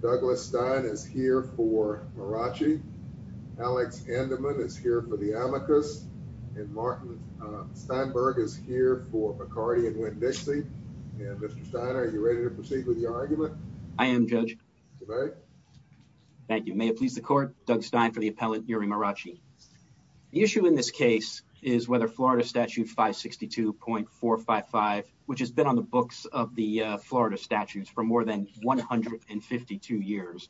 Douglas Stein is here for Marrache, Alex Andaman is here for the Amicus, and Martin Steinberg is here for Bacardi and Winn-Dixie. Mr. Stein, are you ready to proceed with your argument? I am, Judge. Mr. Steinberg? Thank you. May it please the Court, Doug Stein for the appellant Uri Marrache. The issue in this case is whether Florida Statute 562.455, which has been on the books of the Florida statutes for more than 152 years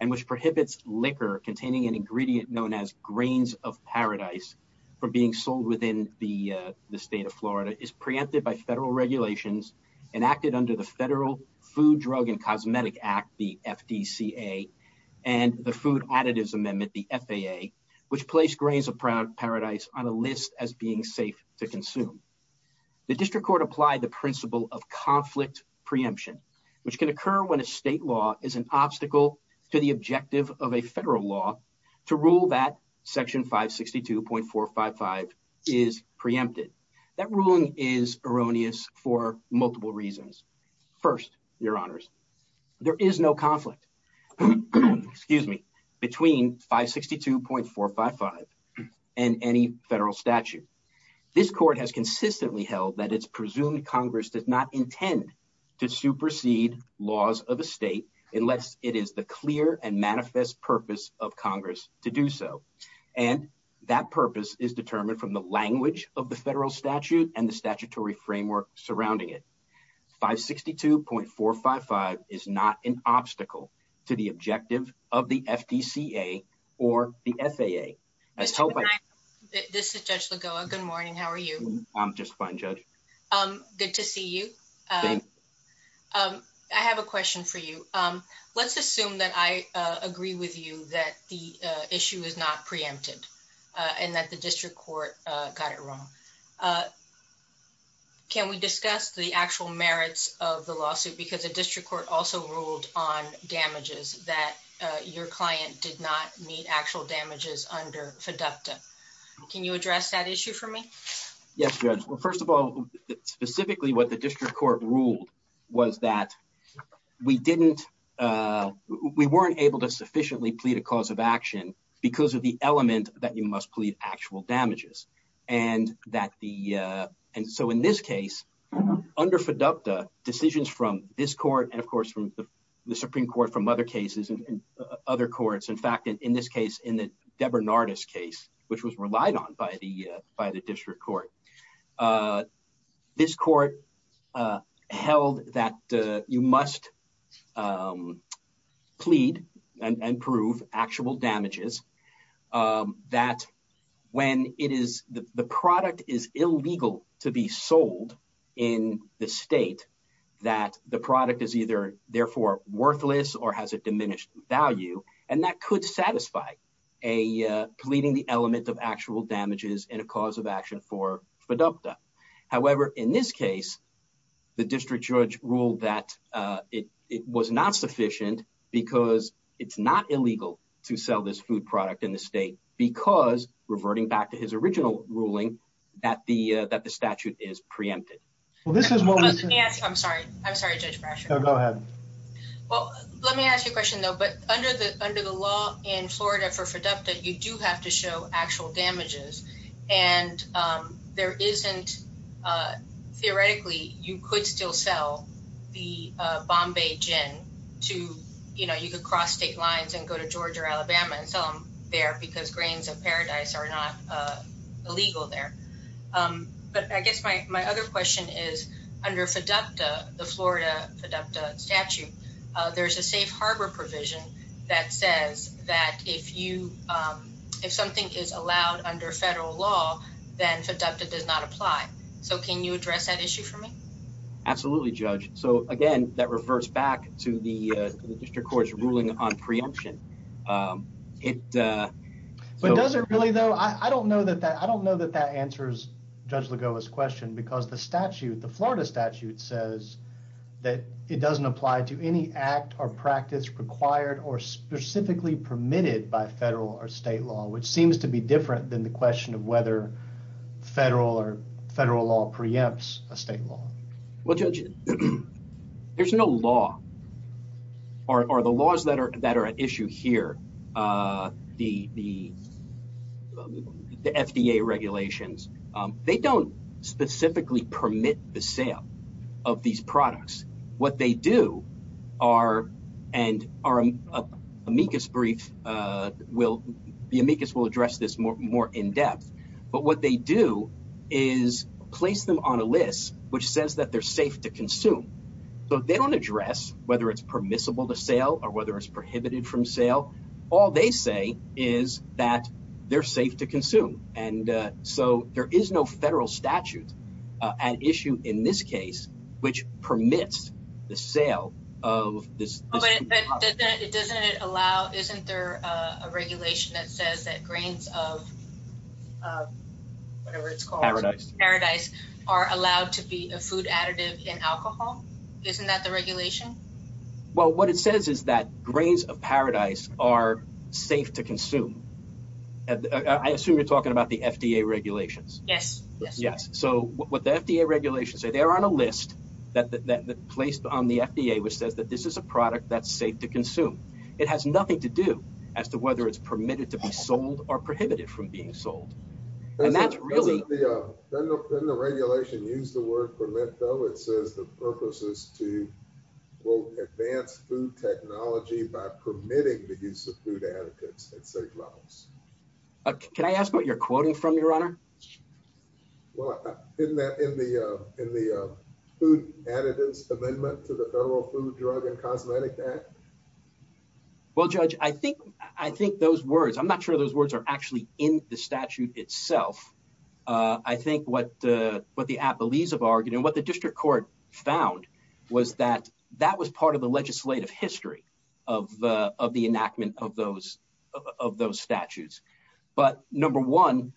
and which prohibits liquor containing an ingredient known as grains of paradise from being sold within the state of Florida, is preempted by federal regulations and acted under the Federal Food, Drug, and Cosmetic Act, the FDCA, and the Food Additives Amendment, the FAA, which place grains of paradise on a list as being safe to consume. The district court applied the principle of conflict preemption, which can occur when a state law is an obstacle to the objective of a federal law to rule that section 562.455 is preempted. That ruling is erroneous for multiple reasons. First, your honors, there is no conflict between 562.455 and any federal statute. This court has consistently held that it's presumed Congress does not intend to supersede laws of a state unless it is the clear and manifest purpose of Congress to do so. And that purpose is determined from the language of the federal statute and the statutory framework surrounding it. 562.455 is not an obstacle to the objective of the FDCA or the FAA. This is Judge Lagoa, good morning, how are you? I'm just fine, Judge. Good to see you. I have a question for you. Let's assume that I agree with you that the issue is not preempted and that the district court got it wrong. Can we discuss the actual merits of the lawsuit because the district court also ruled on damages that your client did not meet actual damages under FDUCTA. Can you address that issue for me? Yes, Judge. Well, first of all, specifically what the district court ruled was that we weren't able to sufficiently plead a cause of action because of the element that you must plead actual damages. And so in this case, under FDUCTA, decisions from this court and of course from the Supreme Court from other cases and other courts, in fact, in this case, in the Debernardis case, which was relied on by the district court, this court held that you must plead and prove actual damages that when it is the product is illegal to be sold in the state that the product is either therefore worthless or has a diminished value. And that could satisfy a pleading the element of actual damages and a cause of action for FDUCTA. However, in this case, the district judge ruled that it was not sufficient because it's not illegal to sell this food product in the state because reverting back to his original ruling that the that the statute is preempted. Well, this is what I'm sorry. I'm sorry, Judge Brasher. Go ahead. Well, let me ask you a question, though. But under the under the law in Florida for FDUCTA, you do have to show actual damages and there isn't theoretically you could still sell the Bombay gin to, you know, you could cross state lines and go to Georgia or Alabama and sell them there because grains of paradise are not illegal there. But I guess my my other question is, under FDUCTA, the Florida FDUCTA statute, there's a safe harbor provision that says that if you if something is allowed under federal law, then FDUCTA does not apply. So can you address that issue for me? Absolutely, Judge. So, again, that reverts back to the district court's ruling on preemption. It doesn't really, though, I don't know that that I don't know that that answers Judge Lagoa's question, because the statute, the Florida statute says that it doesn't apply to any act or practice required or specifically permitted by federal or state law, which seems to be different than the question of whether federal or federal law preempts a state law. Well, Judge, there's no law or the laws that are that are at issue here, the the FDA regulations, they don't specifically permit the sale of these products. What they do are and are amicus brief will be amicus will address this more in depth. But what they do is place them on a list which says that they're safe to consume. So they don't address whether it's permissible to sale or whether it's prohibited from sale. All they say is that they're safe to consume. And so there is no federal statute at issue in this case, which permits the sale of this doesn't allow. Isn't there a regulation that says that grains of whatever it's called paradise are allowed to be a food additive in alcohol? Isn't that the regulation? Well, what it says is that grains of paradise are safe to consume. And I assume you're talking about the FDA regulations. Yes, yes. So what the FDA regulations say, they're on a list that placed on the FDA, which says that this is a product that's safe to consume. It has nothing to do as to whether it's permitted to be sold or prohibited from being sold. And that's really the regulation use the word permit, though, it says the purpose is to will advance food technology by permitting the use of food additives at safe levels. Can I ask what you're quoting from your honor? Well, isn't that in the in the food additives amendment to the Federal Food, Drug and Cosmetic Act? Well, Judge, I think I think those words, I'm not sure those words are actually in the statute itself. I think what the what the appellees have argued and what the district court found was that that was part of the legislative history of the of the enactment of those of those statutes. But number one,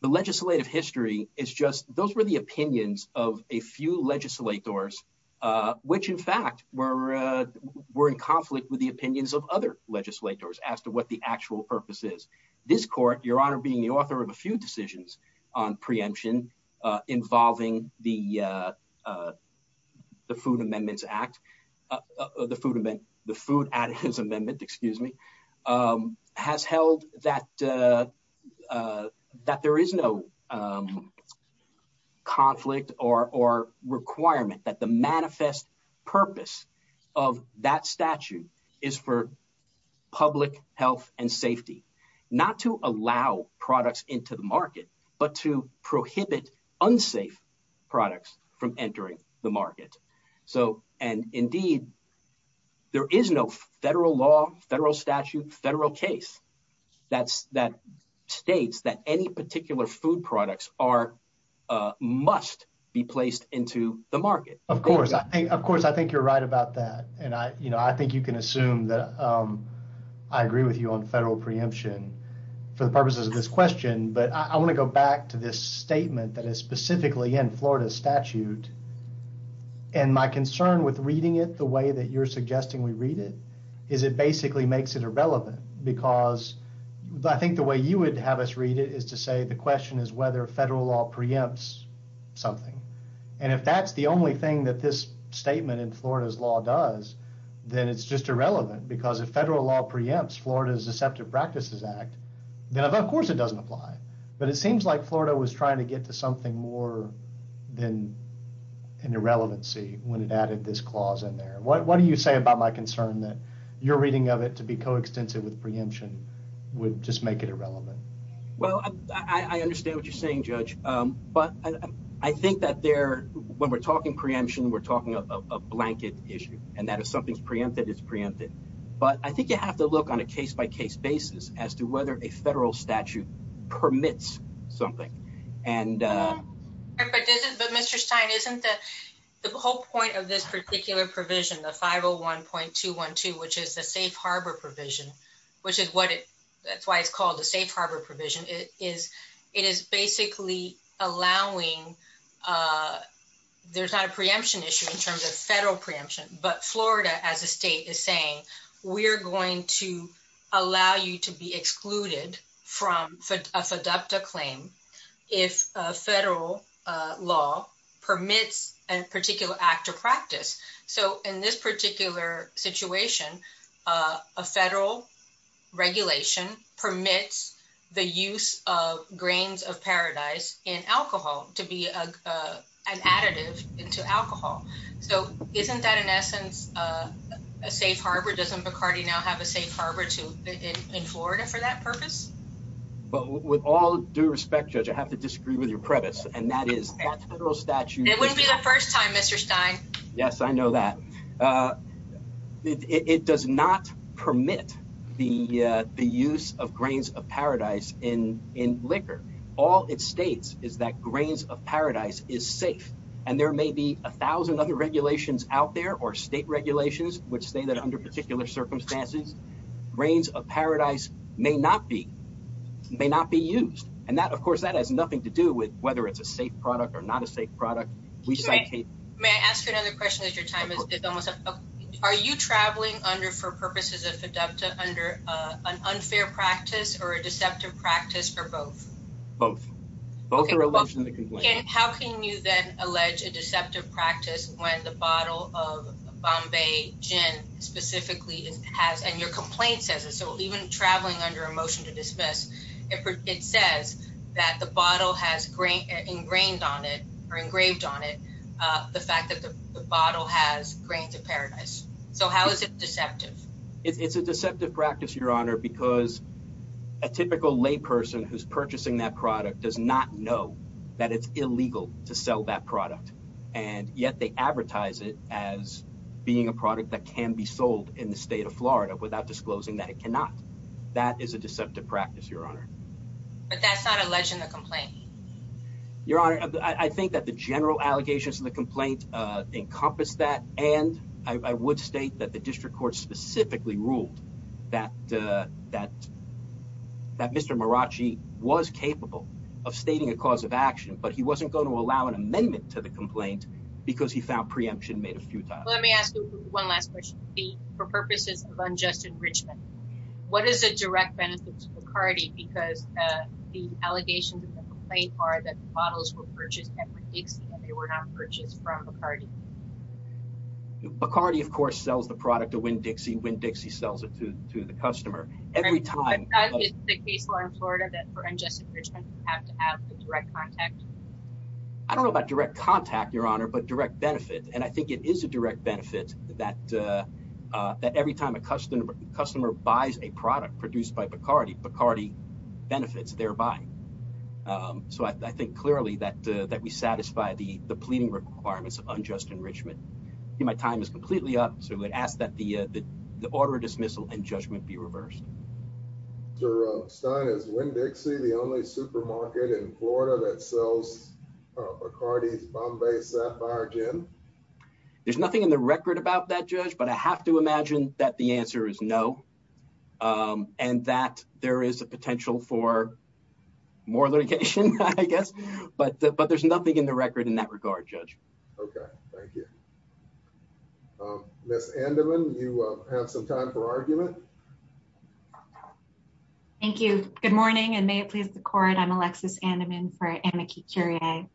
the legislative history is just those were the opinions of a few legislators, which in fact were were in conflict with the opinions of other legislators as to what the actual purpose is. This court, your honor, being the author of a few decisions on preemption involving the that that there is no conflict or requirement that the manifest purpose of that statute is for public health and safety, not to allow products into the market, but to prohibit unsafe products from entering the market. So and indeed, there is no federal law, federal statute, federal case that's that states that any particular food products are must be placed into the market. Of course. Of course. I think you're right about that. And I think you can assume that I agree with you on federal preemption for the purposes of this question. But I want to go back to this statement that is specifically in Florida statute. And my concern with reading it the way that you're suggesting we read it is it basically makes it irrelevant because I think the way you would have us read it is to say the question is whether federal law preempts something. And if that's the only thing that this statement in Florida's law does, then it's just irrelevant because if federal law preempts Florida's Deceptive Practices Act, then of course it doesn't apply. But it seems like Florida was trying to get to something more than an irrelevancy when it added this clause in there. What do you say about my concern that you're reading of it to be coextensive with preemption would just make it irrelevant? Well, I understand what you're saying, Judge. But I think that there, when we're talking preemption, we're talking a blanket issue and that if something's preempted, it's preempted. But I think you have to look on a case-by-case basis as to whether a federal statute permits something. But Mr. Stein, isn't the whole point of this particular provision, the 501.212, which is the safe harbor provision, which is what it, that's why it's called the safe harbor provision, it is basically allowing, there's not a preemption issue in terms of federal preemption, but we're going to allow you to be excluded from a FDUPTA claim if a federal law permits a particular act or practice. So in this particular situation, a federal regulation permits the use of grains of paradise in alcohol to be an additive into alcohol. So isn't that, in essence, a safe harbor? Doesn't McCarty now have a safe harbor in Florida for that purpose? But with all due respect, Judge, I have to disagree with your preface, and that is, that federal statute- It wouldn't be the first time, Mr. Stein. Yes, I know that. It does not permit the use of grains of paradise in liquor. All it states is that grains of paradise is safe, and there may be a thousand other regulations out there, or state regulations, which say that under particular circumstances, grains of paradise may not be, may not be used. And that, of course, that has nothing to do with whether it's a safe product or not a safe product. We cite- May I ask you another question as your time is almost up? Are you traveling under, for purposes of FDUPTA, under an unfair practice or a deceptive practice or both? Both. Okay, both. Both are alleged in the complaint. How can you then allege a deceptive practice when the bottle of Bombay gin specifically has, and your complaint says it, so even traveling under a motion to dismiss, it says that the bottle has ingrained on it, or engraved on it, the fact that the bottle has grains of paradise. So how is it deceptive? It's a deceptive practice, Your Honor, because a typical layperson who's purchasing that product does not know that it's illegal to sell that product. And yet they advertise it as being a product that can be sold in the state of Florida without disclosing that it cannot. That is a deceptive practice, Your Honor. But that's not alleged in the complaint? Your Honor, I think that the general allegations in the complaint encompass that, and I would state that the district court specifically ruled that Mr. Maracci was capable of stating a cause of action, but he wasn't going to allow an amendment to the complaint because he found preemption made a futile. Let me ask you one last question. For purposes of unjust enrichment, what is a direct benefit to Bacardi because the allegations in the complaint are that the bottles were purchased at McDixie and they were not purchased from Bacardi? Bacardi, of course, sells the product to Winn-Dixie. Winn-Dixie sells it to the customer every time. Is the case law in Florida that for unjust enrichment you have to have a direct contact? I don't know about direct contact, Your Honor, but direct benefit. And I think it is a direct benefit that every time a customer buys a product produced by Bacardi, Bacardi benefits thereby. So I think clearly that we satisfy the pleading requirements of unjust enrichment. I think my time is completely up, so I would ask that the order of dismissal and judgment be reversed. Sir, Stein, is Winn-Dixie the only supermarket in Florida that sells Bacardi's Bombay Sapphire Gin? There's nothing in the record about that, Judge, but I have to imagine that the answer is no and that there is a potential for more litigation, I guess. But there's nothing in the record in that regard, Judge. Okay. Thank you. Ms. Andaman, you have some time for argument. Thank you. Good morning, and may it please the court, I'm Alexis Andaman for Amici Curie.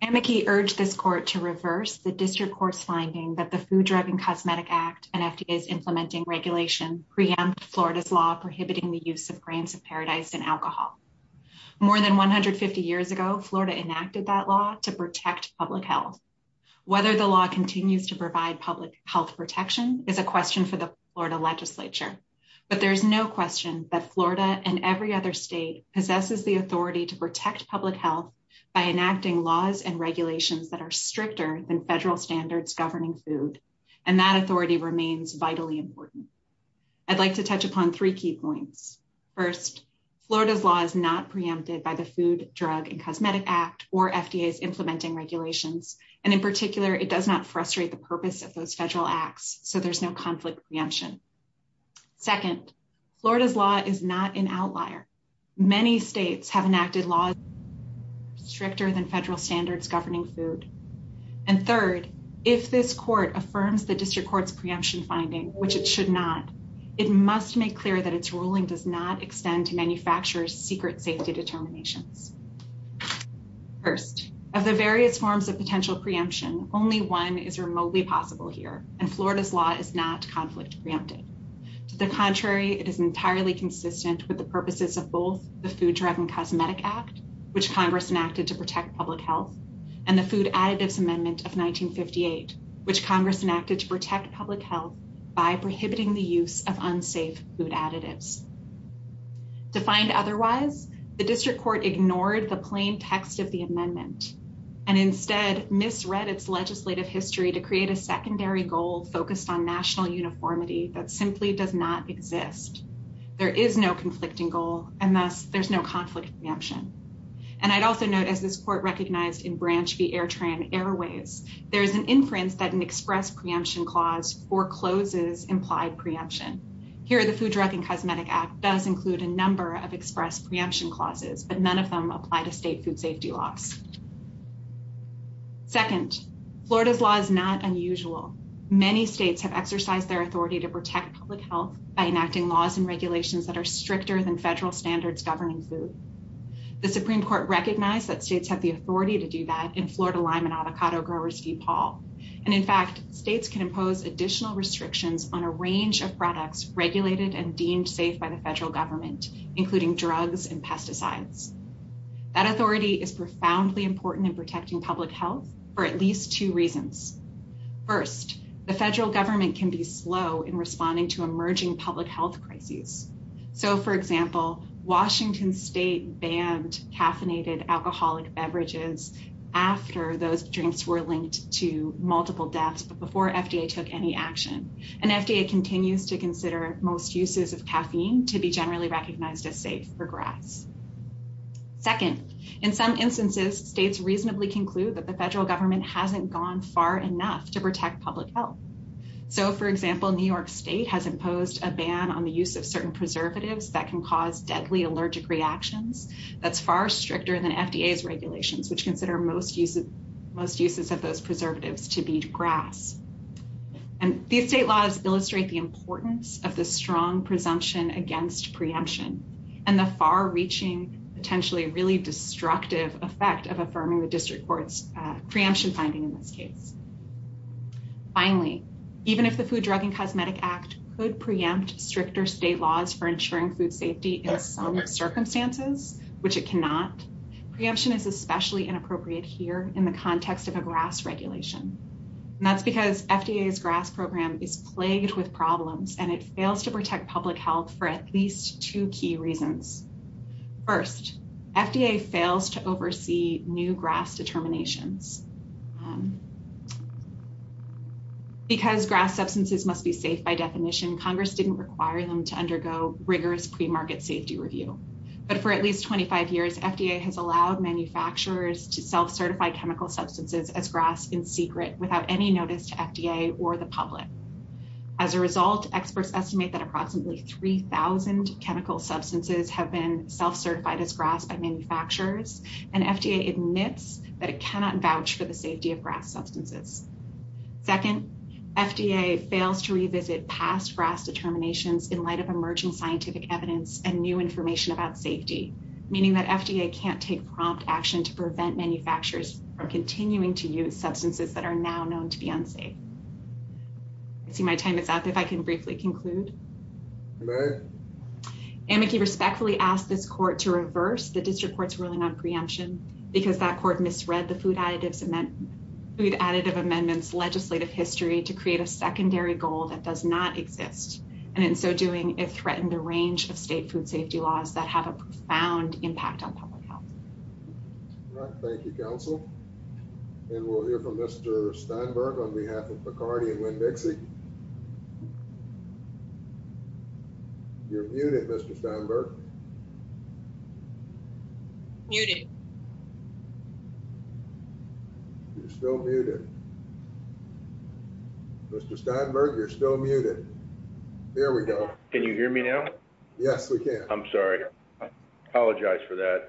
Amici urged this court to reverse the district court's finding that the Food, Drug, and Cosmetic Act and FDA's implementing regulation preempt Florida's law prohibiting the use of grains of paradise and alcohol. More than 150 years ago, Florida enacted that law to protect public health. Whether the law continues to provide public health protection is a question for the Florida legislature, but there is no question that Florida and every other state possesses the authority to protect public health by enacting laws and regulations that are stricter than I'd like to touch upon three key points. First, Florida's law is not preempted by the Food, Drug, and Cosmetic Act or FDA's implementing regulations, and in particular, it does not frustrate the purpose of those federal acts, so there's no conflict preemption. Second, Florida's law is not an outlier. Many states have enacted laws stricter than federal standards governing food. And third, if this court affirms the district court's preemption finding, which it should not, it must make clear that its ruling does not extend to manufacturers' secret safety determinations. First, of the various forms of potential preemption, only one is remotely possible here, and Florida's law is not conflict preempted. To the contrary, it is entirely consistent with the purposes of both the Food, Drug, and Additives Amendment of 1958, which Congress enacted to protect public health by prohibiting the use of unsafe food additives. Defined otherwise, the district court ignored the plain text of the amendment and instead misread its legislative history to create a secondary goal focused on national uniformity that simply does not exist. There is no conflicting goal, and thus, there's no conflict preemption. And I'd also note, as this court recognized in Branch v. Airtrain Airways, there's an inference that an express preemption clause forecloses implied preemption. Here, the Food, Drug, and Cosmetic Act does include a number of express preemption clauses, but none of them apply to state food safety laws. Second, Florida's law is not unusual. Many states have exercised their authority to protect public health by enacting laws and The Supreme Court recognized that states have the authority to do that in Florida Lime and Avocado Growers v. Paul. And in fact, states can impose additional restrictions on a range of products regulated and deemed safe by the federal government, including drugs and pesticides. That authority is profoundly important in protecting public health for at least two reasons. First, the federal government can be slow in responding to emerging public health crises. So, for example, Washington State banned caffeinated alcoholic beverages after those drinks were linked to multiple deaths, but before FDA took any action. And FDA continues to consider most uses of caffeine to be generally recognized as safe for grass. Second, in some instances, states reasonably conclude that the federal government hasn't gone far enough to protect public health. So, for example, New York State has imposed a ban on the use of certain preservatives that can cause deadly allergic reactions. That's far stricter than FDA's regulations, which consider most uses of those preservatives to be grass. And these state laws illustrate the importance of the strong presumption against preemption and the far-reaching, potentially really destructive effect of affirming the district court's preemption finding in this case. Finally, even if the Food, Drug, and Cosmetic Act could preempt stricter state laws for ensuring food safety in some circumstances, which it cannot, preemption is especially inappropriate here in the context of a grass regulation. And that's because FDA's grass program is plagued with problems and it fails to protect public health for at least two key reasons. First, FDA fails to oversee new grass determinations. Because grass substances must be safe by definition, Congress didn't require them to undergo rigorous premarket safety review. But for at least 25 years, FDA has allowed manufacturers to self-certify chemical substances as grass in secret without any notice to FDA or the public. As a result, experts estimate that approximately 3,000 chemical substances have been self-certified as grass by manufacturers. And FDA admits that it cannot vouch for the safety of grass substances. Second, FDA fails to revisit past grass determinations in light of emerging scientific evidence and new information about safety, meaning that FDA can't take prompt action to prevent manufacturers from continuing to use substances that are now known to be unsafe. I see my time is up. If I can briefly conclude. You may. Amici respectfully asked this court to reverse the district court's ruling on preemption because that court misread the Food Additive Amendment's legislative history to create a secondary goal that does not exist. And in so doing, it threatened a range of state food safety laws that have a profound impact on public health. All right. Thank you, counsel. And we'll hear from Mr. Steinberg on behalf of Bacardi and Winn-Dixie. You're muted, Mr. Steinberg. Muted. You're still muted. Mr. Steinberg, you're still muted. There we go. Can you hear me now? Yes, we can. I'm sorry. I apologize for that.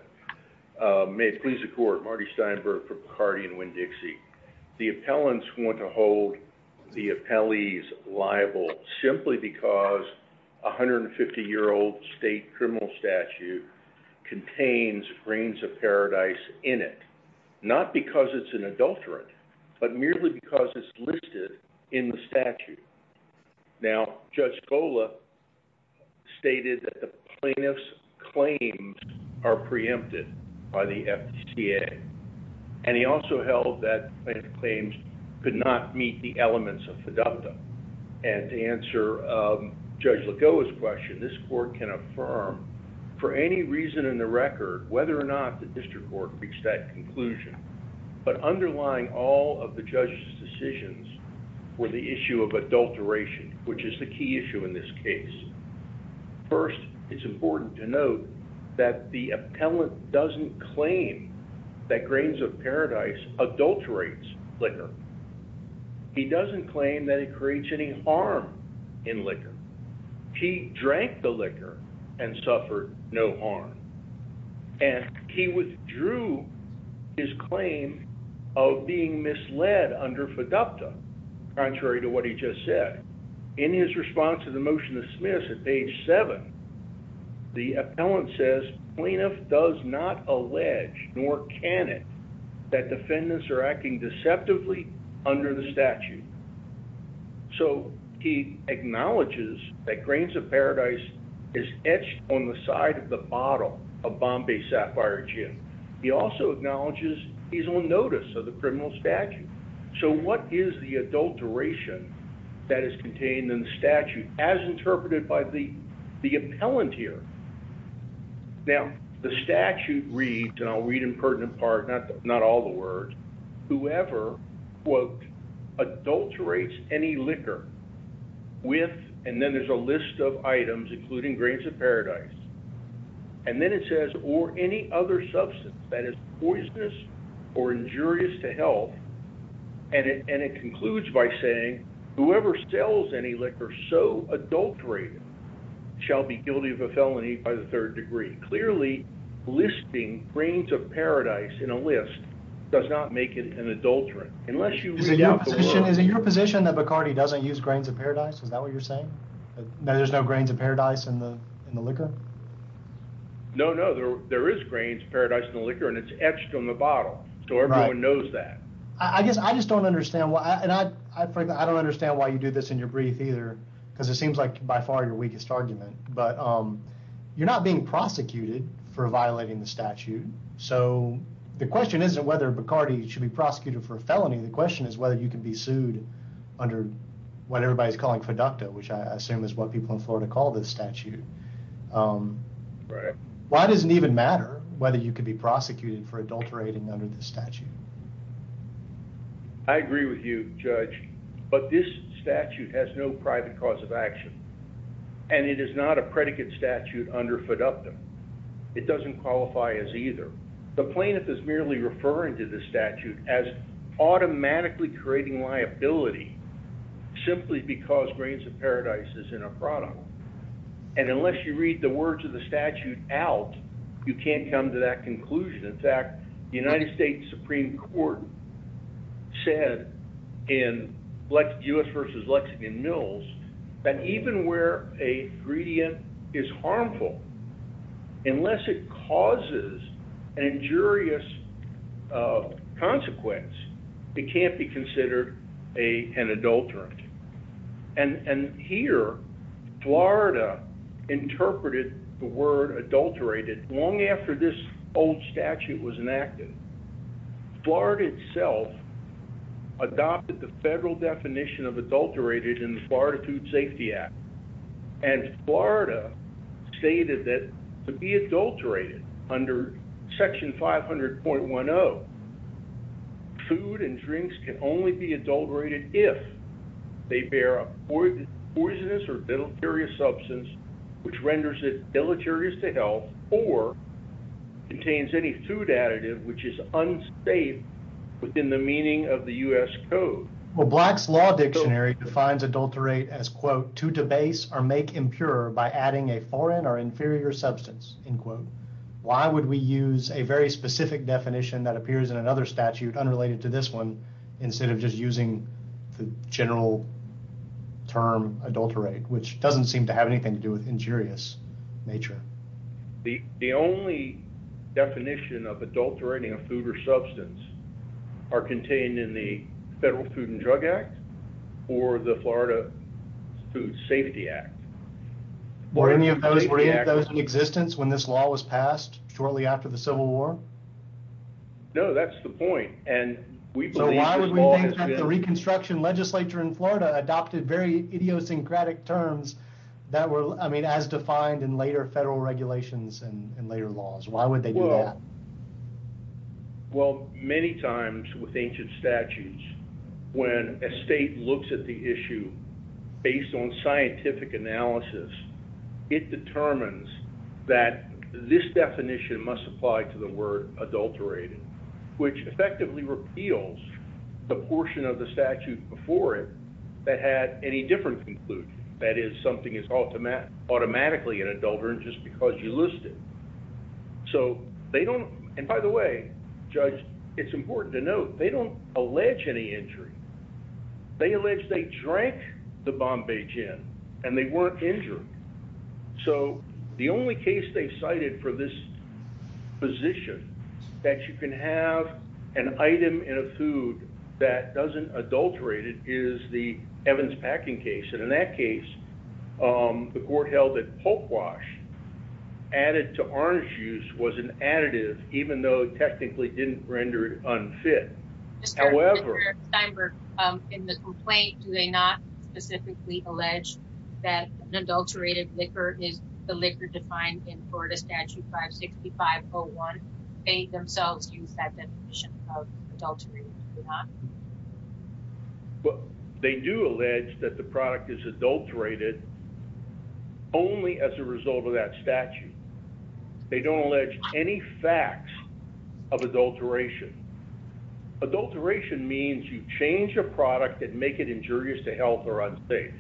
May it please the court. Marty Steinberg from Bacardi and Winn-Dixie. The appellants want to hold the appellees liable simply because a 150-year-old state criminal statute contains grains of paradise in it. Not because it's an adulterant, but merely because it's listed in the statute. Now, Judge Gola stated that the plaintiff's claims are preempted by the FDCA. And he also held that the plaintiff's claims could not meet the elements of FDUCTA. And to answer Judge Lagoa's question, this court can affirm for any reason in the record whether or not the district court reached that conclusion. But underlying all of the judge's decisions were the issue of adulteration, which is the key issue in this case. First, it's important to note that the appellant doesn't claim that grains of paradise adulterates liquor. He doesn't claim that it creates any harm in liquor. He drank the liquor and suffered no harm. And he withdrew his claim of being misled under FDUCTA, contrary to what he just said. In his response to the motion to dismiss at page 7, the appellant says, plaintiff does not allege nor can it that defendants are acting deceptively under the statute. So he acknowledges that grains of paradise is etched on the side of the bottle of Bombay Sapphire Gin. He also acknowledges he's on notice of the criminal statute. So what is the adulteration that is contained in the statute as interpreted by the appellant here? Now, the statute reads, and I'll read in pertinent part, not all the words, whoever, quote, adulterates any liquor with, and then there's a list of items including grains of paradise. And then it says, or any other substance that is poisonous or injurious to health. And it concludes by saying, whoever sells any liquor so adulterated shall be guilty of a felony by the third degree. Clearly, listing grains of paradise in a list does not make it an adulterant unless you read out the words. Is it your position that Bacardi doesn't use grains of paradise? Is that what you're saying? That there's no grains of paradise in the liquor? No, no. There is grains of paradise in the liquor, and it's etched on the bottle. So everyone knows that. I guess I just don't understand. And frankly, I don't understand why you do this in your brief either, because it seems like by far your weakest argument. But you're not being prosecuted for violating the statute. So the question isn't whether Bacardi should be prosecuted for a felony. The question is whether you can be sued under what everybody is calling feducta, which I assume is what people in Florida call this statute. Why does it even matter whether you could be prosecuted for adulterating under this statute? I agree with you, Judge. But this statute has no private cause of action, and it is not a predicate statute under feducta. It doesn't qualify as either. The plaintiff is merely referring to the statute as automatically creating liability simply because grains of paradise is in a product. And unless you read the words of the statute out, you can't come to that conclusion. In fact, the United States Supreme Court said in U.S. v. Lexington Mills that even where a gradient is harmful, unless it causes an injurious consequence, it can't be considered an adulterant. And here Florida interpreted the word adulterated. Long after this old statute was enacted, Florida itself adopted the federal definition of adulterated in the Florida Food Safety Act. And Florida stated that to be adulterated under Section 500.10, food and drinks can only be adulterated if they bear a poisonous or if it's deleterious to health or contains any food additive which is unsafe within the meaning of the U.S. code. Well, Black's Law Dictionary defines adulterate as, quote, to debase or make impure by adding a foreign or inferior substance, end quote. Why would we use a very specific definition that appears in another statute unrelated to this one instead of just using the general term adulterate, which doesn't seem to have anything to do with injurious nature? The only definition of adulterating a food or substance are contained in the Federal Food and Drug Act or the Florida Food Safety Act. Were any of those in existence when this law was passed shortly after the Civil War? No, that's the point. So why would we think that the Reconstruction Legislature in Florida adopted very idiosyncratic terms that were, I mean, as defined in later federal regulations and later laws? Why would they do that? Well, many times with ancient statutes, when a state looks at the issue based on scientific analysis, it determines that this definition must apply to the word adulterated, which effectively repeals the portion of the statute before it that had any different conclusion, that is, something is automatically an adulterant just because you list it. So they don't, and by the way, Judge, it's important to note, they don't allege any injury. They allege they drank the Bombay gin and they weren't injured. So the only case they cited for this position, that you can have an item in a food that doesn't adulterate it, is the Evans packing case. And in that case, the court held that pulp wash added to orange juice was an additive, even though it technically didn't render it unfit. However, in the complaint, do they not specifically allege that an adulterated liquor is the liquor defined in Florida statute 5 65 0 1? They themselves use that definition of adultery. Well, they do allege that the product is adulterated only as a result of that statute. They don't allege any facts of adulteration. Adulteration means you change a product that make it injurious to health or unsafe.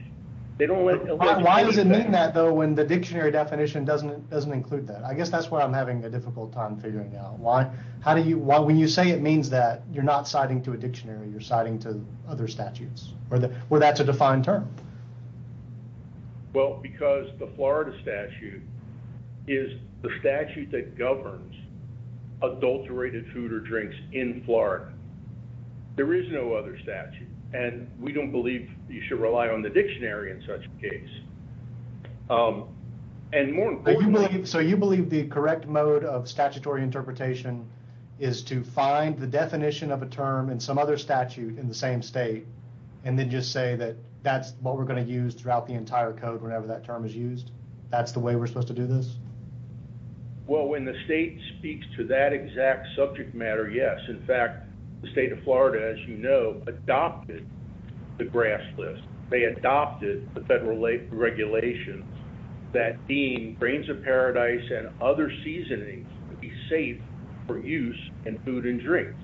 Why does it mean that though, when the dictionary definition doesn't include that? I guess that's what I'm having a difficult time figuring out. When you say it means that you're not citing to a dictionary, you're citing to other statutes where that's a defined term. Well, because the Florida statute is the statute that governs adulterated food or alcohol in Florida, there is no other statute. And we don't believe you should rely on the dictionary in such a case. And more importantly, so you believe the correct mode of statutory interpretation is to find the definition of a term and some other statute in the same state. And then just say that that's what we're going to use throughout the entire code. Whenever that term is used, that's the way we're supposed to do this. when the state speaks to that exact subject matter, yes, in fact, the state of Florida, as you know, adopted the grass list. They adopted the federal regulations that being grains of paradise and other seasonings would be safe for use in food and drinks.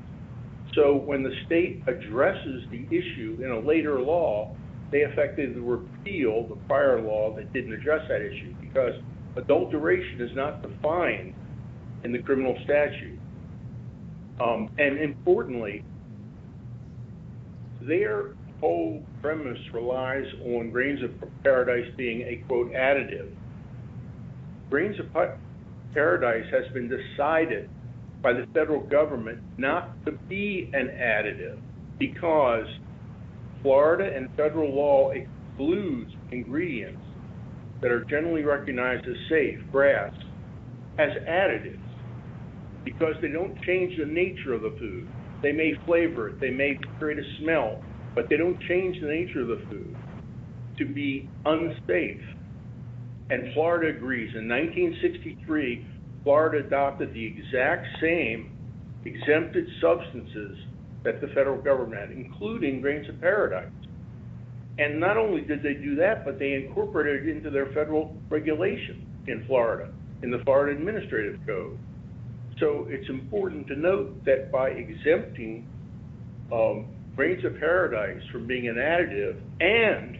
So when the state addresses the issue in a later law, they effectively repealed the prior law that didn't address that issue because adulteration is not defined in the criminal statute. And importantly, their whole premise relies on grains of paradise being a quote additive. Grains of paradise has been decided by the federal government not to be an additive because Florida and federal law excludes ingredients that are generally recognized as safe grass as additives because they don't change the nature of the food. They may flavor it. They may create a smell, but they don't change the nature of the food to be unsafe. And Florida agrees. In 1963, Florida adopted the exact same exempted substances that the federal government, including grains of paradise. And not only did they do that, but they incorporated it into their federal regulation in Florida in the Florida administrative code. So it's important to note that by exempting grains of paradise from being an additive and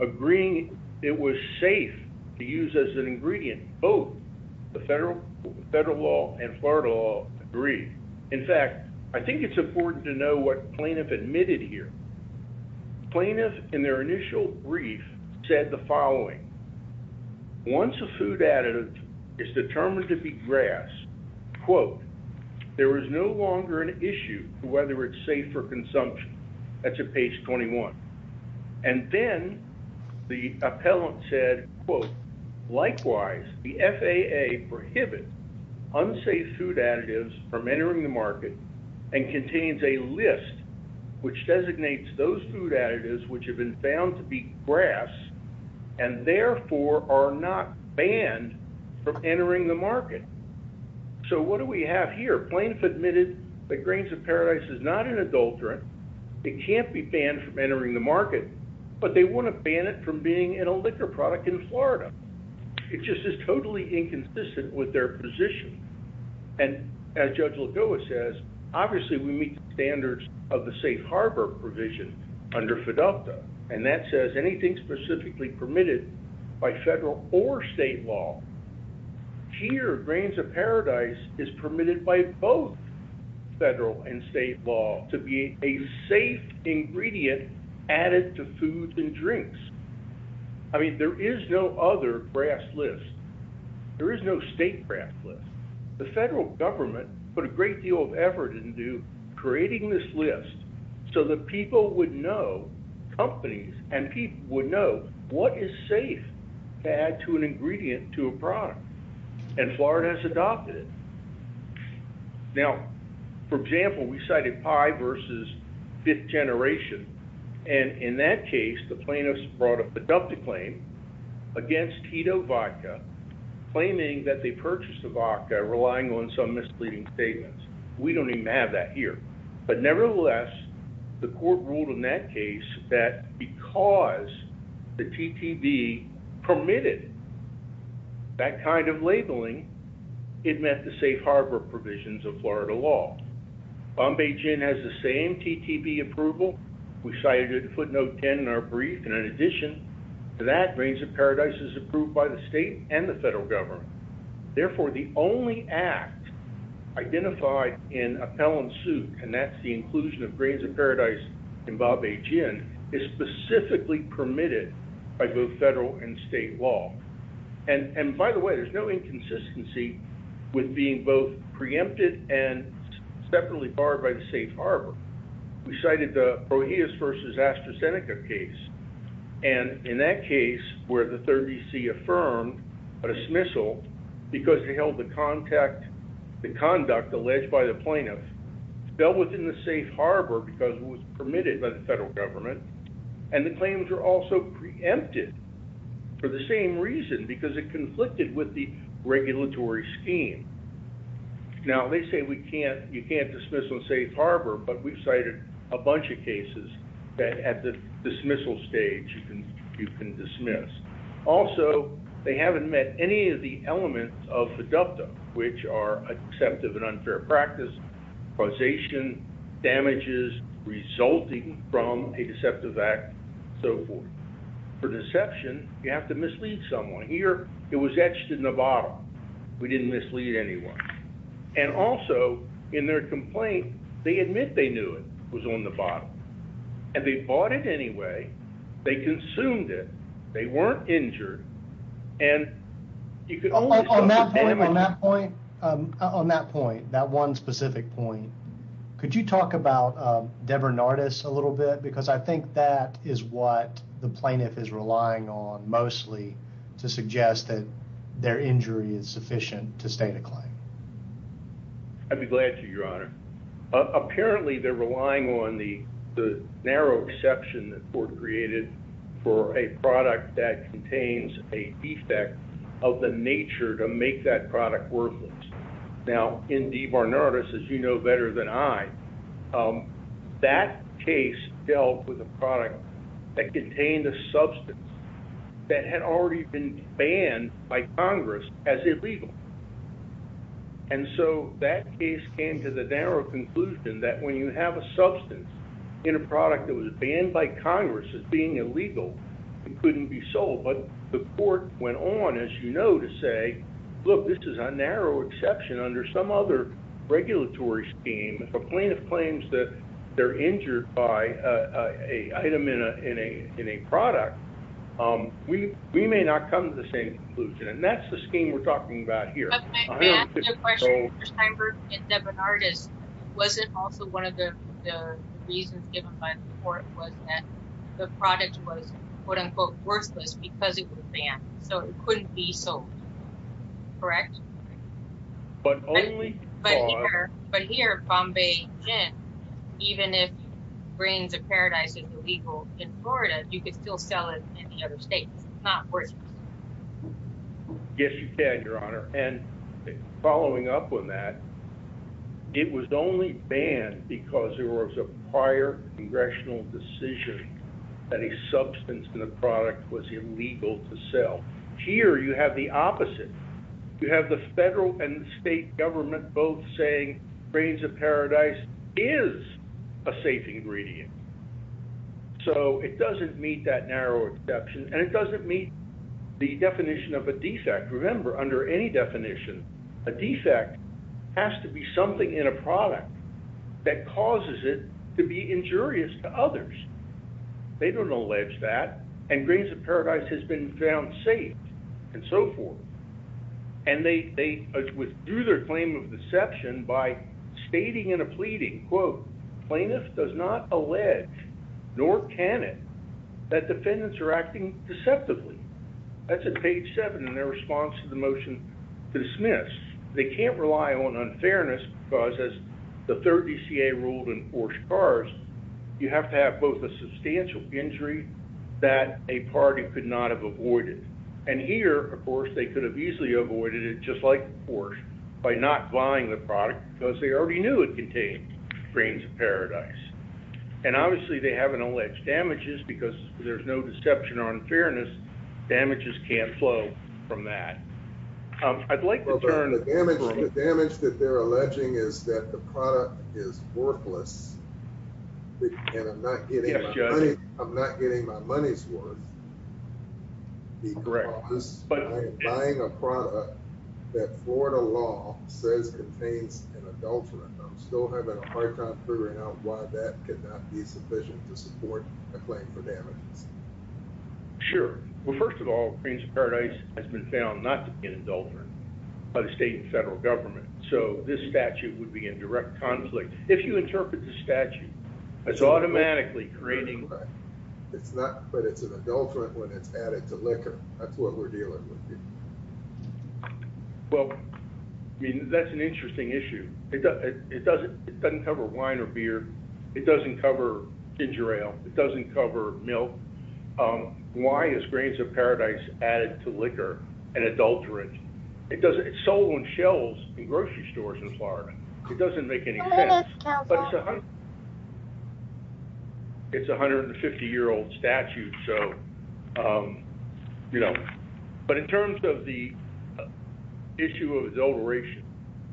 agreeing it was safe to use as an ingredient, both the federal law and Florida law agree. In fact, I think it's important to know what plaintiff admitted here. Plaintiff in their initial brief said the following, once a food additive is determined to be grass, quote, there is no longer an issue whether it's safe for consumption. That's a page 21. And then the appellant said, quote, likewise, the FAA prohibit unsafe food additives from entering the market and contains a list which designates those food additives, which have been found to be grass. And therefore are not banned from entering the market. So what do we have here? Plaintiff admitted that grains of paradise is not an adulterant. It can't be banned from entering the market, but they wouldn't ban it from being in a liquor product in Florida. It just is totally inconsistent with their position. And as judge Lagoa says, obviously we meet the standards of the safe Harbor provision under FIDUCTA. And that says anything specifically permitted by federal or state law here, grains of paradise is permitted by both federal and state law to be a safe ingredient added to foods and drinks. I mean, there is no other grass list. There is no state craft list. The federal government put a great deal of effort into creating this list so that people would know companies and people would know what is safe to add to an ingredient, to a product. And Florida has adopted it. Now, for example, we cited pie versus fifth generation. And in that case, the plaintiffs brought up the dump to claim against keto vodka, claiming that they purchased the vodka relying on some misleading statements. We don't even have that here, but nevertheless, the court ruled in that case that because the TTV permitted that kind of labeling, it meant the safe Harbor provisions of Florida law. Bombay gin has the same TTP approval. We cited footnote 10 in our brief. And in addition to that grains of paradise is approved by the state and the federal government. Therefore the only act identified in appellant suit, and that's the inclusion of grains of paradise in Bob, a gin is specifically permitted by both federal and state law. And by the way, there's no inconsistency with being both preempted and separately barred by the safe Harbor. We cited the, oh, he is versus AstraZeneca case. And in that case where the third BC affirmed a dismissal because he held the contact, the conduct alleged by the plaintiff fell within the safe Harbor, because it was permitted by the federal government. And the claims are also preempted for the same reason because it conflicted with the regulatory scheme. Now they say we can't, you can't dismiss them safe Harbor, but we've cited a bunch of cases that at the dismissal stage you can, you can dismiss. Also they haven't met any of the elements of the Delta, which are accepted and unfair practice causation, damages resulting from a deceptive act. So for deception, you have to mislead someone here. It was etched in the bottle. We didn't mislead anyone. And also in their complaint, they admit they knew it was on the bottom. And they bought it anyway. They consumed it. They weren't injured. And you could always on that point, on that point, on that point, that one specific point, could you talk about Debra Nardis a little bit? Because I think that is what the plaintiff is relying on mostly to suggest that their injury is sufficient to state a claim. I'd be glad to your honor. Apparently they're relying on the, the narrow exception that were created for a product that contains a defect of the nature to make that product worthless. Now in Debra Nardis, as you know, better than I, that case dealt with a product that contained a substance that had already been banned by Congress as illegal. And so that case came to the narrow conclusion that when you have a product that was banned by Congress as being illegal, it couldn't be sold. But the court went on, as you know, to say, look, this is a narrow exception under some other regulatory scheme, a plaintiff claims that they're injured by a item in a, in a, in a product. We, we may not come to the same conclusion. And that's the scheme we're talking about here. I have a question for Steinberg and Debra Nardis. Was it also one of the reasons given by the court was that the product was quote unquote worthless because it was banned. So it couldn't be sold. Correct. But only. But here, but here Bombay, even if brains of paradise is illegal in Florida, you could still sell it in the other States. It's not worth it. Yes, you can, your honor. And following up with that, it was only banned because there was a prior congressional decision that a substance in the product was illegal to sell here. You have the opposite. You have the federal and state government both saying brains of paradise is a safe ingredient. So it doesn't meet that narrow exception and it doesn't meet the definition of a defect. Remember under any definition, a defect has to be something in a product that causes it to be injurious to others. They don't allege that and grains of paradise has been found safe and so forth. And they, they withdrew their claim of deception by stating in a pleading quote, plaintiff does not allege nor can it that defendants are acting deceptively. That's a page seven in their response to the motion to dismiss. They can't rely on unfairness because as the third DCA ruled in Porsche cars, you have to have both a substantial injury that a party could not have avoided. And here, of course, they could have easily avoided it just like Porsche by not buying the product because they already knew it contained brains of paradise. And obviously they haven't alleged damages because there's no deception on fairness. Damages can't flow from that. I'd like to turn the damage. The damage that they're alleging is that the product is worthless and I'm not getting, I'm not getting my money's worth. Correct. Buying a product that Florida law says contains an adulterant. I'm still having a hard time figuring out why that could not be sufficient to support a claim for damage. Sure. Well, first of all, brains of paradise has been found not to be an adulterant by the state and federal government. So this statute would be in direct conflict. If you interpret the statute as automatically creating, it's not, but it's an adulterant when it's added to liquor. That's what we're dealing with. Well, I mean, that's an interesting issue. It doesn't, it doesn't, it doesn't cover wine or beer. It doesn't cover ginger ale. It doesn't cover milk. Why is grains of paradise added to liquor and adulterant? It doesn't, it's sold on shelves in grocery stores in Florida. It doesn't make any sense. It's 150 year old statute. So, you know, but in terms of the issue of adulteration,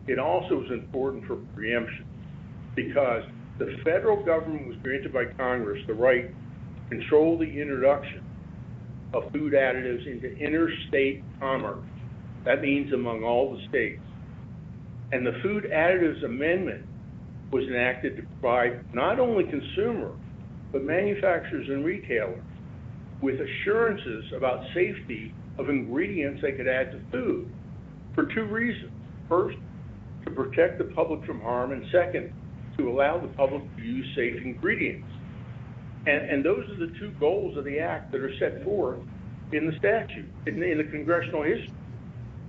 it also is important for preemption because the federal government was granted by Congress, the right control the introduction of food additives into interstate commerce. That means among all the states. And the food additives amendment was enacted to provide not only consumer, but manufacturers and retailers with assurances about safety of consumers to protect the public from harm. And second to allow the public to use safe ingredients. And those are the two goals of the act that are set forth in the statute in the congressional history.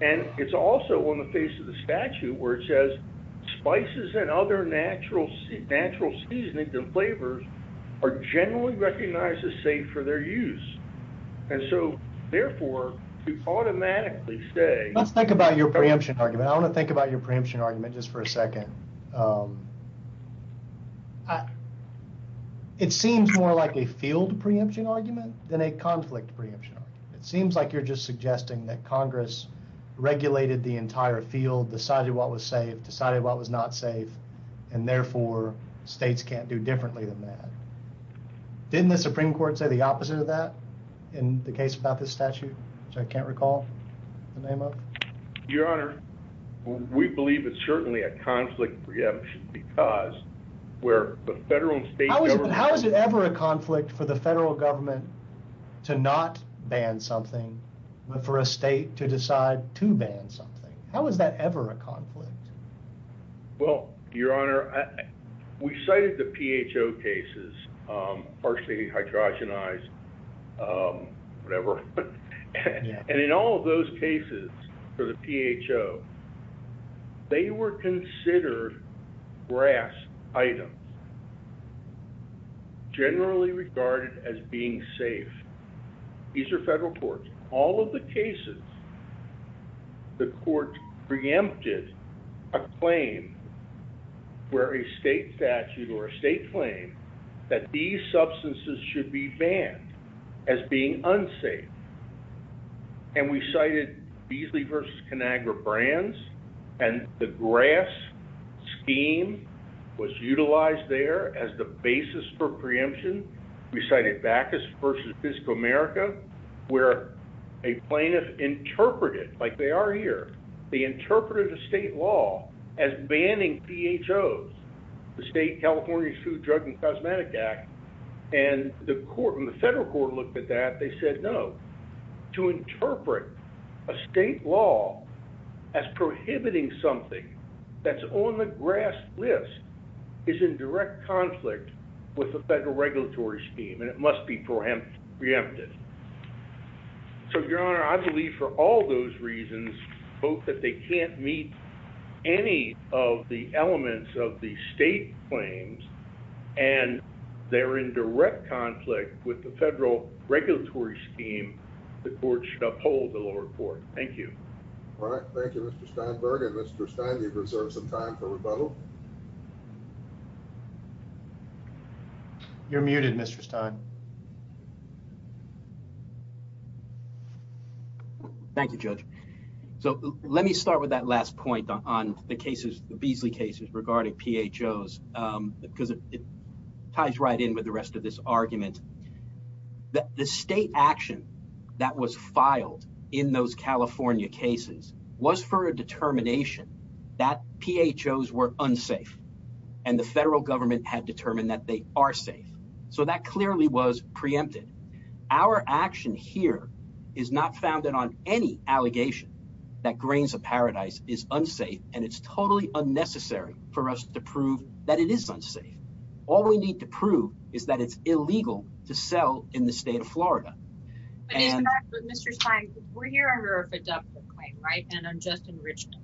And it's also on the face of the statute where it says spices and other natural, natural seasonings and flavors are generally recognized as safe for their use. And so therefore to automatically say, let's think about your preemption argument. I want to think about your preemption argument just for a second. It seems more like a field preemption argument than a conflict preemption. It seems like you're just suggesting that Congress regulated the entire field, decided what was safe, decided what was not safe. And therefore states can't do differently than that. Didn't the Supreme court say the opposite of that in the case about this statute, which I can't recall the name of? Your honor. We believe it's certainly a conflict preemption because where the federal and state. How is it ever a conflict for the federal government to not ban something, but for a state to decide to ban something? How was that ever a conflict? Well, your honor, we cited the PHO cases, partially hydrogenized whatever. And in all of those cases for the PHO, they were considered grass items generally regarded as being safe. These are federal courts. All of the cases, the court preempted a claim where a state statute or a state claim that these were not safe. And we cited Beasley versus Conagra brands. And the grass scheme was utilized there as the basis for preemption. We cited Bacchus versus physical America, where a plaintiff interpreted like they are here. They interpreted the state law as banning PHOs, the state California food, drug, and cosmetic act. And the court and the federal court looked at that. They said, no, to interpret a state law as prohibiting something that's on the grass list is in direct conflict with the federal regulatory scheme and it must be preempted. So your honor, I believe for all those reasons both that they can't meet any of the elements of the state claims and they're in direct conflict with the federal regulatory scheme. The court should uphold the lower court. Thank you. All right. Thank you. Mr. Steinberg. And Mr. Stein, you've reserved some time for rebuttal. You're muted. Mr. Stein. Thank you, judge. So let me start with that last point on the cases, the Beasley cases regarding PHOs because it ties right in with the rest of this argument. The state action that was filed in those California cases was for a determination that PHOs were unsafe and the federal government had determined that they are safe. So that clearly was preempted. Our action here is not founded on any allegation that grains of paradise is unsafe and it's totally unnecessary for us to prove that it is unsafe. All we need to prove is that it's illegal to sell in the state of Florida. But Mr. Stein, we're here under a FIDUCTA claim, right? And I'm just in Richmond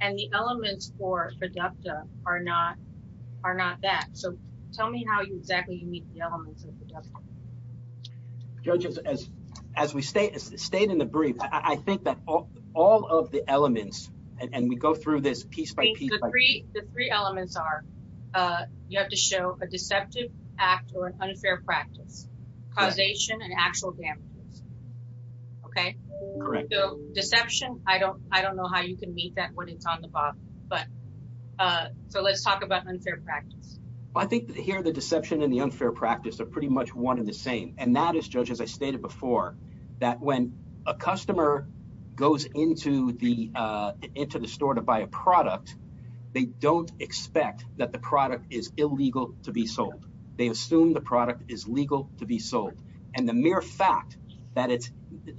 and the elements for FIDUCTA are not, are not that. So tell me how exactly you meet the elements of FIDUCTA. Judge, as, as we stayed, stayed in the brief, I think that all of the elements and we go through this piece by piece. The three elements are, uh, you have to show a deceptive act or an unfair practice causation and actual damages. Okay. Correct. Deception. I don't, I don't know how you can meet that when it's on the bottom, but, uh, so let's talk about unfair practice. I think that here, the deception and the unfair practice are pretty much one in the same. And that is judge, as I stated before, that when a customer goes into the, uh, into the store to buy a product, they don't expect that the product is illegal to be sold. They assume the product is legal to be sold. And the mere fact that it's,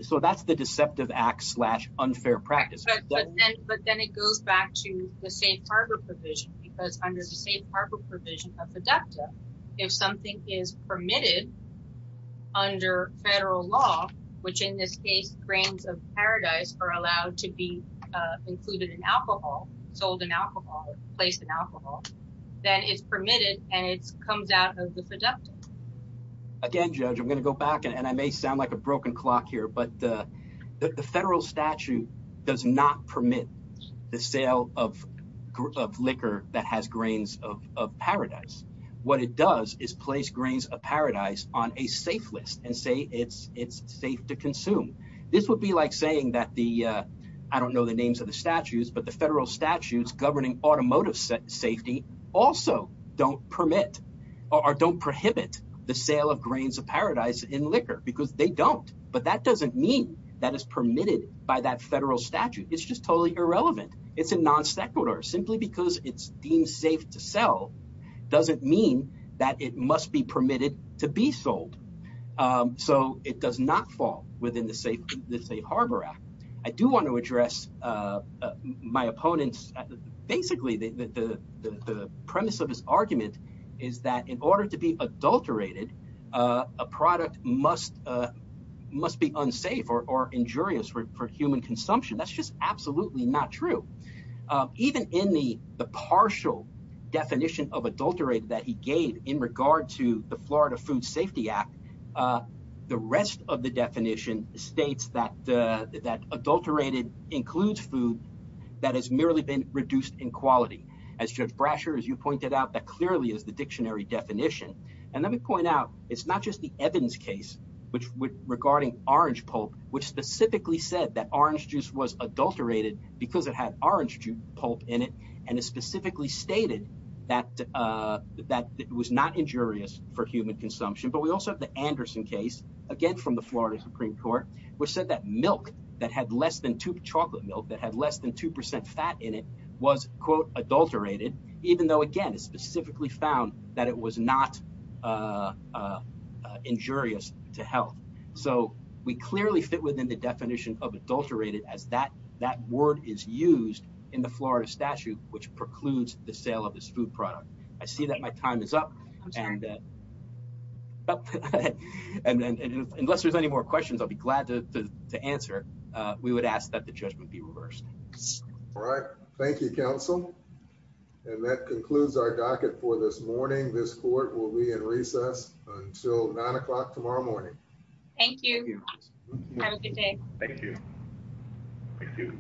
so that's the deceptive act slash unfair practice. But then it goes back to the safe harbor provision because under the safe harbor provision of FIDUCTA, if something is permitted under federal law, which in this case, grains of paradise are allowed to be included in alcohol, sold in alcohol, placed in alcohol, then it's permitted. And it's comes out of the seductive again, judge, I'm going to go back and I may sound like a broken clock here, but, uh, the federal statute does not permit the sale of, of liquor that has grains of, of paradise. What it does is place grains of paradise on a safe list and say it's, it's safe to consume. This would be like saying that the, uh, I don't know the names of the statues, but the federal statutes governing automotive safety also don't permit or don't prohibit the sale of grains of paradise in liquor because they don't. But that doesn't mean that is permitted by that federal statute. It's just totally irrelevant. It's a non-sequitur simply because it's deemed safe to sell. Doesn't mean that it must be permitted to be sold. Um, so it does not fall within the safe harbor act. I do want to address, uh, my opponent's basically the, the, the premise of his argument is that in order to be adulterated, uh, a product must, uh, must be unsafe or injurious for human consumption. That's just absolutely not true. Um, even in the, the partial definition of adulterated that he gave in regard to the Florida food safety act, uh, the rest of the definition states that, uh, that adulterated includes food that has merely been reduced in quality. As judge Brasher, as you pointed out, that clearly is the dictionary definition. And let me point out, it's not just the evidence case, which would regarding orange pulp, which specifically said that orange juice was adulterated because it had orange pulp in it. And it specifically stated that, uh, that it was not injurious for human consumption, but we also have the Anderson case again from the Florida Supreme court, which said that milk that had less than two chocolate milk that had less than 2% fat in it was quote adulterated. Even though, again, it specifically found that it was not, uh, uh, injurious to health. So we clearly fit within the definition of adulterated as that, that word is used in the Florida statute, which precludes the sale of this food product. I see that my time is up. And, uh, but unless there's any more questions, I'll be glad to answer. Uh, we would ask that the judgment be reversed. All right. Thank you. Council. And that concludes our docket for this morning. This court will be in recess until nine o'clock tomorrow morning. Thank you. Thank you. Have a good day. Thank you. Thank you.